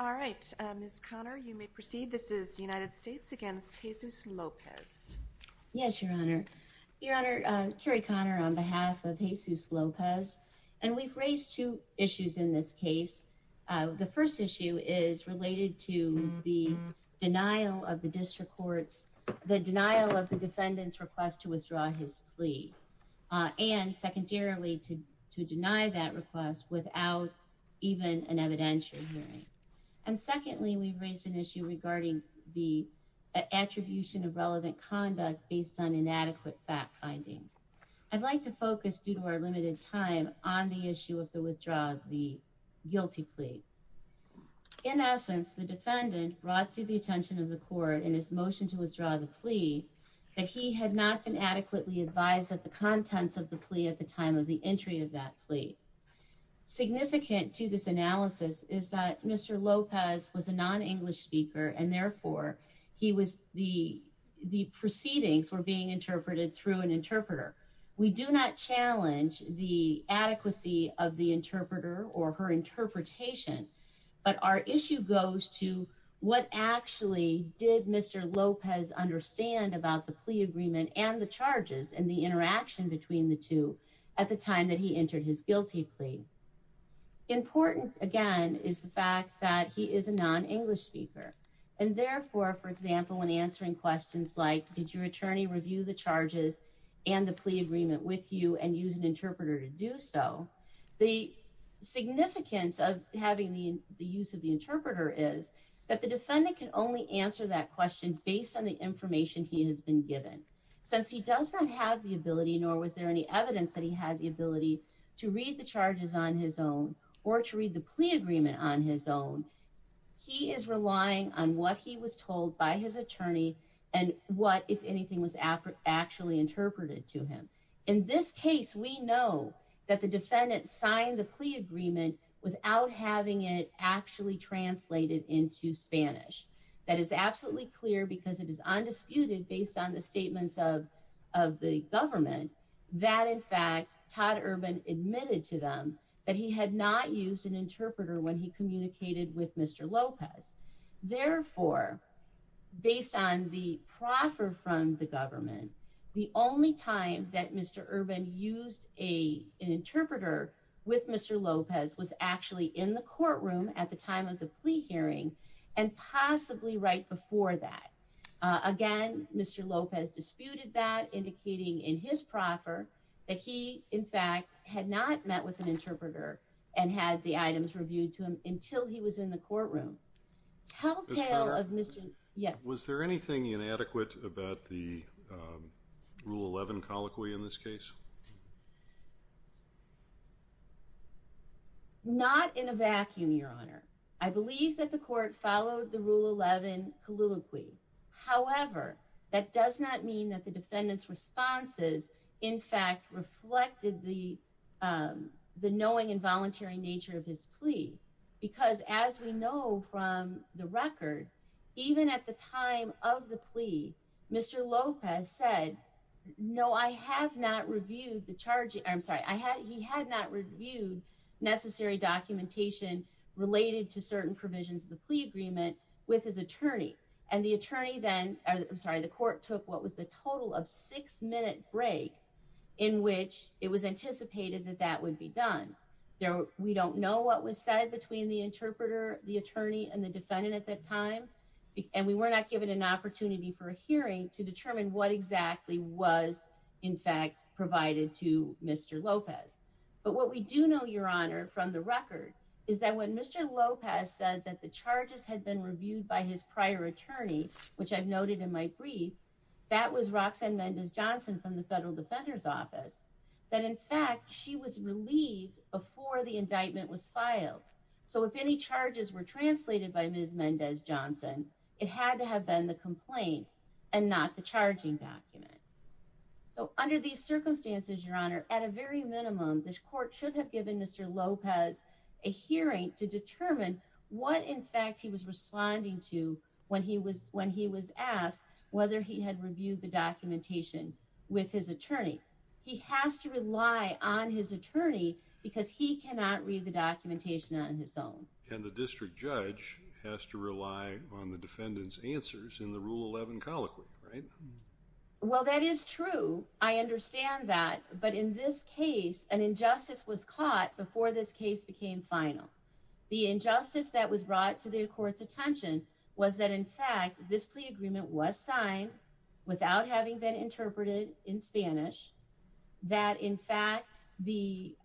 on behalf of Jesus Lopez. And we've raised two issues in this case. The first issue is related to the denial of the district courts, the denial of the defendant's request to withdraw his plea. And secondarily, to deny that request without even an evidentiary hearing. And secondly, we've raised an issue regarding the attribution of relevant conduct based on inadequate fact-finding. I'd like to focus, due to our limited time, on the issue of the withdrawal of the guilty plea. In essence, the defendant brought to the attention of the court, in his motion to withdraw the plea, that he had not been adequately advised of the contents of the plea at the time of the entry of that plea. Significant to this analysis is that Mr. Lopez was a non-English speaker, and therefore, the proceedings were being interpreted through an interpreter. We do not challenge the and the charges and the interaction between the two at the time that he entered his guilty plea. Important, again, is the fact that he is a non-English speaker. And therefore, for example, when answering questions like, did your attorney review the charges and the plea agreement with you and use an interpreter to do so, the significance of having the use of the interpreter is that the defendant can only answer that question based on the Since he does not have the ability, nor was there any evidence that he had the ability to read the charges on his own or to read the plea agreement on his own, he is relying on what he was told by his attorney and what, if anything, was actually interpreted to him. In this case, we know that the defendant signed the plea agreement without having it actually translated into Spanish. That is absolutely clear because it is undisputed based on the of the government that, in fact, Todd Urban admitted to them that he had not used an interpreter when he communicated with Mr. Lopez. Therefore, based on the proffer from the government, the only time that Mr. Urban used an interpreter with Mr. Lopez was actually in the courtroom at the time of the plea hearing and possibly right before that. Again, Mr. Lopez disputed that, indicating in his proffer that he, in fact, had not met with an interpreter and had the items reviewed to him until he was in the courtroom. Telltale of Mr. Yes. Was there anything inadequate about the Rule 11 colloquy in this case? Not in a vacuum, Your Honor. I believe that the court followed the Rule 11 colloquy. However, that does not mean that the defendant's responses, in fact, reflected the knowing and voluntary nature of his plea because, as we know from the record, even at the time of the plea, Mr. Lopez said, no, I have not reviewed the charge. I'm sorry, he had not reviewed necessary documentation related to certain provisions of the plea agreement with his attorney. And the attorney then, I'm sorry, the court took what was the total of six minute break in which it was anticipated that that would be done. We don't know what was said between the interpreter, the attorney, and the defendant at that time. And we were not given an opportunity for a hearing to determine what exactly was, in fact, provided to Mr. Lopez. But what we do know, Your Honor, from the record, is that when Mr. Lopez said that the charges had been reviewed by his prior attorney, which I've noted in my brief, that was Roxanne Mendez-Johnson from the Federal Defender's Office, that, in fact, she was relieved before the indictment was filed. So if any charges were translated by Ms. Mendez-Johnson, it had to have been the complaint and not the charging document. So under these circumstances, Your Honor, at a very minimum, this court should have given Mr. Lopez a hearing to determine what, in fact, he was responding to when he was asked whether he had reviewed the documentation with his attorney. He has to rely on his attorney because he cannot read the documentation on his own. And the district judge has to rely on the defendant's answers in the Rule 11 colloquy, right? Well, that is true. I understand that. But in this case, an injustice was caught before this case became final. The injustice that was brought to the court's attention was that, in fact, this plea agreement was signed without having been interpreted in Spanish, that, in fact, there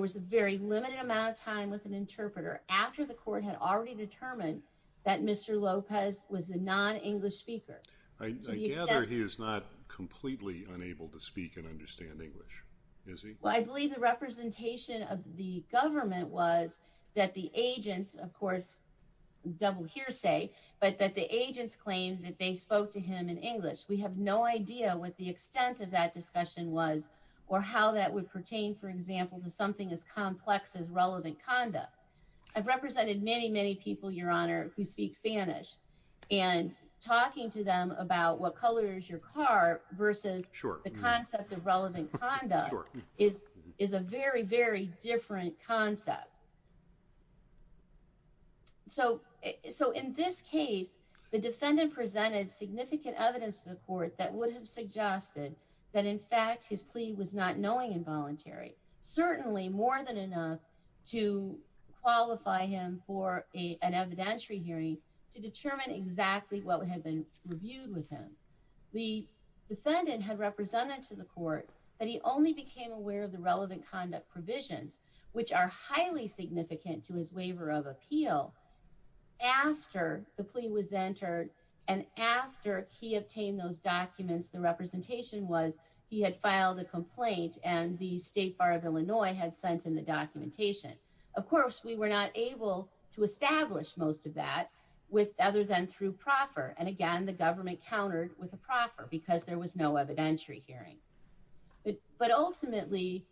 was a very limited amount of time with an interpreter after the court had already determined that Mr. Lopez was a non-English speaker. I gather he is not completely unable to speak and understand English, is he? Well, I believe the representation of the government was that the agents, of course, double hearsay, but that the agents claimed that they spoke to him in English. We have no idea what the extent of that discussion was or how that would pertain, for example, to something as complex as relevant conduct. I've represented many, many people, Your Honor, who speak Spanish, and talking to them about what color is your car versus the concept of relevant conduct is a very, very different concept. So in this case, the defendant presented significant evidence to the court that would have suggested that, in fact, his plea was not knowing and voluntary, certainly more than enough to qualify him for an evidentiary hearing to determine exactly what would have been reviewed with him. The defendant had represented to the court that he only became aware of the relevant conduct provisions, which are highly significant to his waiver of appeal, after the plea was entered and after he obtained those documents. The representation was he had filed a complaint and the State Bar of Illinois had sent him the documentation. Of course, we were not able to establish most of that other than through proffer, and again, the government countered with a proffer because there was no evidentiary hearing. But ultimately,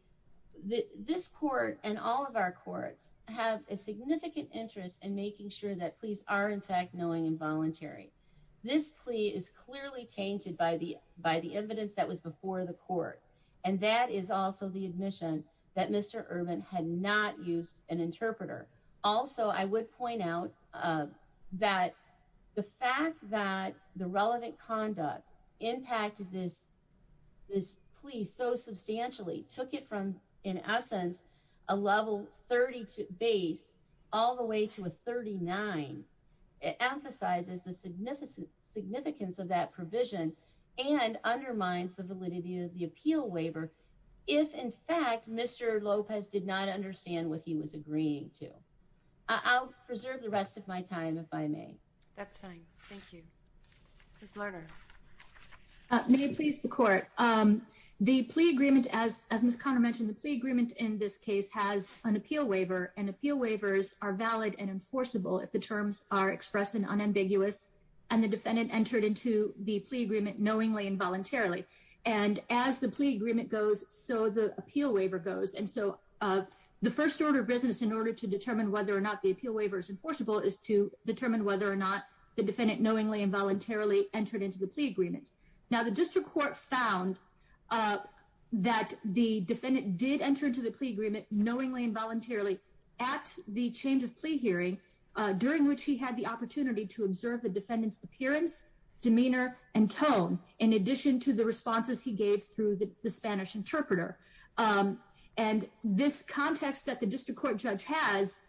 this court and all of our courts have a significant interest in making sure that pleas are, in fact, knowing and voluntary. This plea is clearly tainted by the evidence that was before the court, and that is also the admission that Mr. Urban had not used an interpreter. Also, I would point out that the fact that the relevant conduct impacted this plea so substantially, took it from, in essence, a level 30 base all the way to a 39, it emphasizes the significance of that provision and undermines the validity of the appeal waiver if, in fact, Mr. Lopez did not understand what he was agreeing to. I'll preserve the rest of my time if I may. That's fine, thank you. Ms. Lerner. May it please the court. The plea agreement, as Ms. Connor mentioned, the plea agreement in this case has an appeal waiver, and appeal waivers are valid and enforceable if the terms are expressed and unambiguous and the defendant entered into the plea agreement knowingly and voluntarily. And as the plea agreement goes, so the appeal waiver goes. And so the first order of business in order to determine whether or not the appeal waiver is enforceable is to determine whether or not the defendant knowingly and voluntarily entered into the plea agreement. Now, the district court found that the defendant did enter into the plea agreement knowingly and voluntarily at the change of plea hearing, during which he had the opportunity to observe the defendant's appearance, demeanor, and tone, in addition to the responses he gave through the Spanish interpreter. And this context that the district court judge has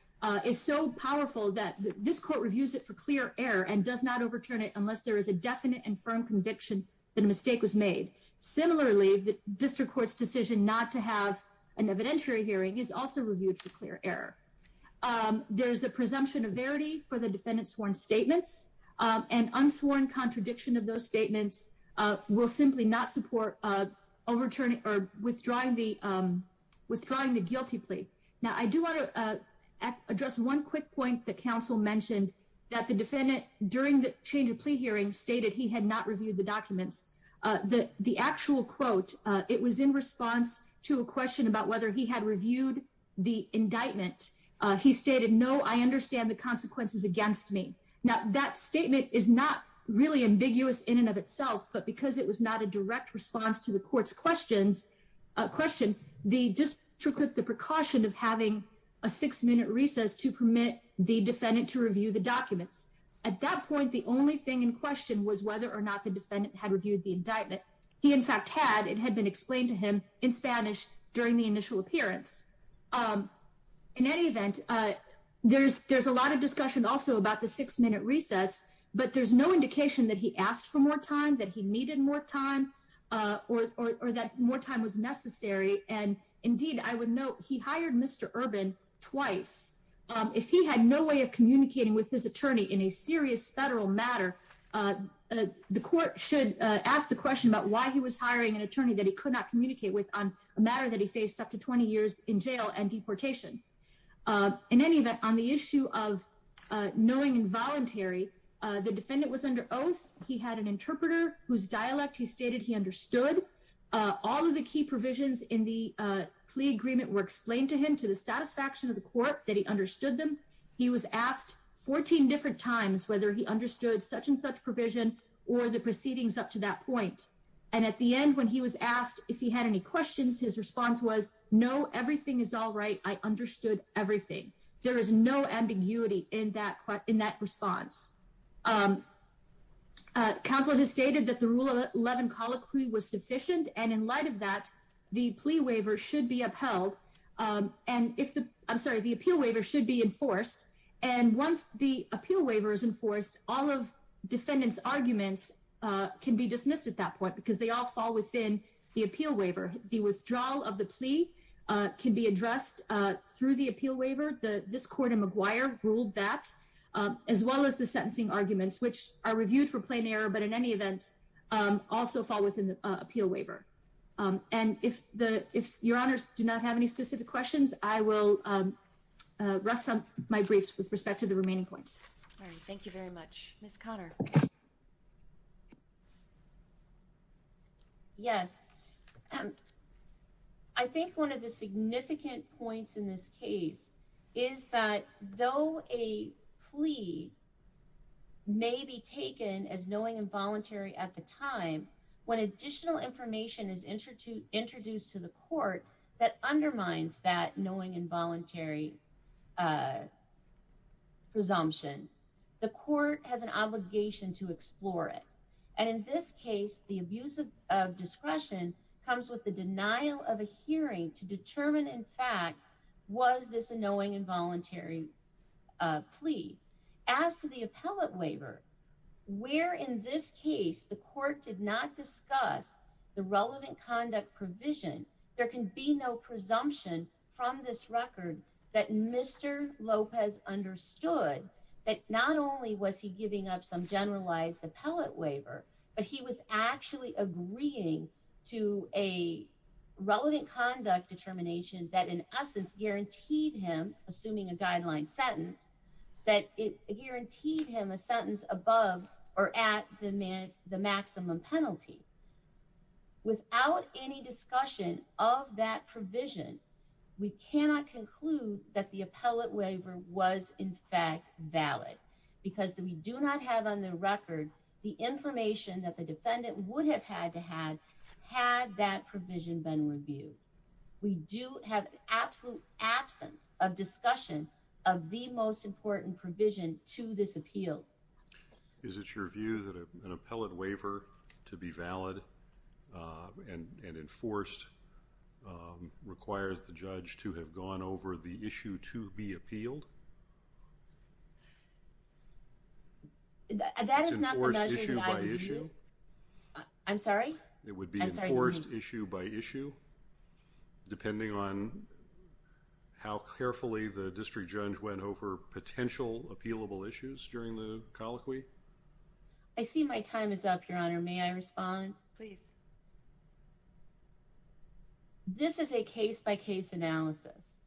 is so powerful that this court reviews it for clear error and does not overturn it unless there is a definite and firm conviction that a mistake was made. Similarly, the district court's decision not to have an evidentiary hearing is also reviewed for clear error. There's a presumption of verity for the defendant's sworn statements, and unsworn contradiction of those statements will simply not support withdrawing the guilty plea. Now, I do want to address one quick point that counsel mentioned that the defendant, during the change of plea hearing, stated he had not reviewed the documents. The actual quote, it was in response to a question about whether he had reviewed the indictment. He stated, no, I understand the consequences against me. Now, that statement is not really ambiguous in and of itself, but because it was not a direct response to the court's question, the district court took the precaution of having a six-minute recess to permit the defendant to review the documents. At that point, the only thing in question was whether or not the defendant had reviewed the indictment. He, in fact, had. It had been explained to him in Spanish during the initial appearance. In any event, there's a lot of discussion also about the six-minute recess, but there's no indication that he asked for more time, that he needed more time, or that more time was necessary. And indeed, I would note he hired Mr. Urban twice. If he had no way of communicating with his attorney in a serious federal matter, the court should ask the question about why he was hiring an attorney that he could not communicate with on a matter that he faced up to 20 years in jail and deportation. In any event, on the issue of knowing involuntary, the defendant was under oath. He had an interpreter whose dialect he stated he understood. All of the key provisions in the plea agreement were explained to him, the satisfaction of the court that he understood them. He was asked 14 different times whether he understood such and such provision or the proceedings up to that point. And at the end, when he was asked if he had any questions, his response was, no, everything is all right. I understood everything. There is no ambiguity in that response. Counsel has stated that the Rule 11 colloquy was sufficient, and in light of that, the plea waiver should be upheld. And if the, I'm sorry, the appeal waiver should be enforced. And once the appeal waiver is enforced, all of defendants' arguments can be dismissed at that point because they all fall within the appeal waiver. The withdrawal of the plea can be addressed through the appeal waiver. This court in McGuire ruled that, as well as the sentencing arguments, which are reviewed for plain error, but in any event, also fall within the appeal waiver. And if the, if your honors do not have any specific questions, I will rest my briefs with respect to the remaining points. All right. Thank you very much. Ms. Connor. Yes. I think one of the significant points in this case is that, though a plea may be taken as knowing involuntary at the time, when additional information is introduced to the court that undermines that knowing involuntary presumption, the court has an obligation to explore it. And in this case, the abuse of discretion comes with the denial of a hearing to determine, in fact, was this a knowing involuntary plea? As to the appellate waiver, where in this case the court did not discuss the relevant conduct provision, there can be no presumption from this record that Mr. Lopez understood that not only was he giving up some generalized appellate waiver, but he was actually agreeing to a relevant conduct determination that in essence guaranteed him, assuming a guideline sentence, that it guaranteed him a sentence above or at the maximum penalty. Without any discussion of that provision, we cannot conclude that the appellate waiver was in fact valid because we do not have on the record the information that the defendant would have had to have, had that provision been reviewed. We do have an absolute absence of discussion of the most important provision to this appeal. Is it your view that an appellate waiver to be valid and enforced requires the judge to have gone over the issue to be appealed? That is not the measure that I would view. I'm sorry? It would be enforced issue by issue? Depending on how carefully the district judge went over potential appealable issues during the colloquy? I see my time is up, Your Honor. May I respond? Please. This is a case-by-case analysis.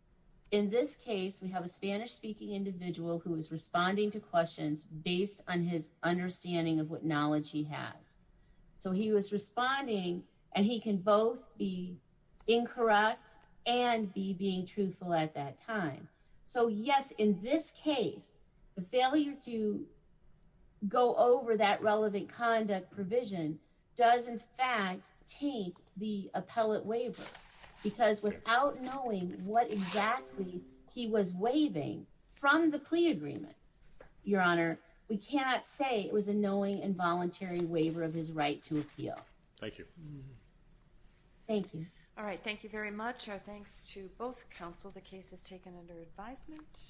In this case, we have a Spanish-speaking individual who is responding to questions based on his understanding of what knowledge he has. So he was responding, and he can both be incorrect and be being truthful at that time. So yes, in this case, the failure to go over that relevant conduct provision does in fact take the appellate waiver because without knowing what exactly he was waiving from the plea agreement, Your Honor, we cannot say it was a knowing and voluntary waiver of his right to appeal. Thank you. Thank you. All right, thank you very much. Our thanks to both counsel. The case is taken under advisement.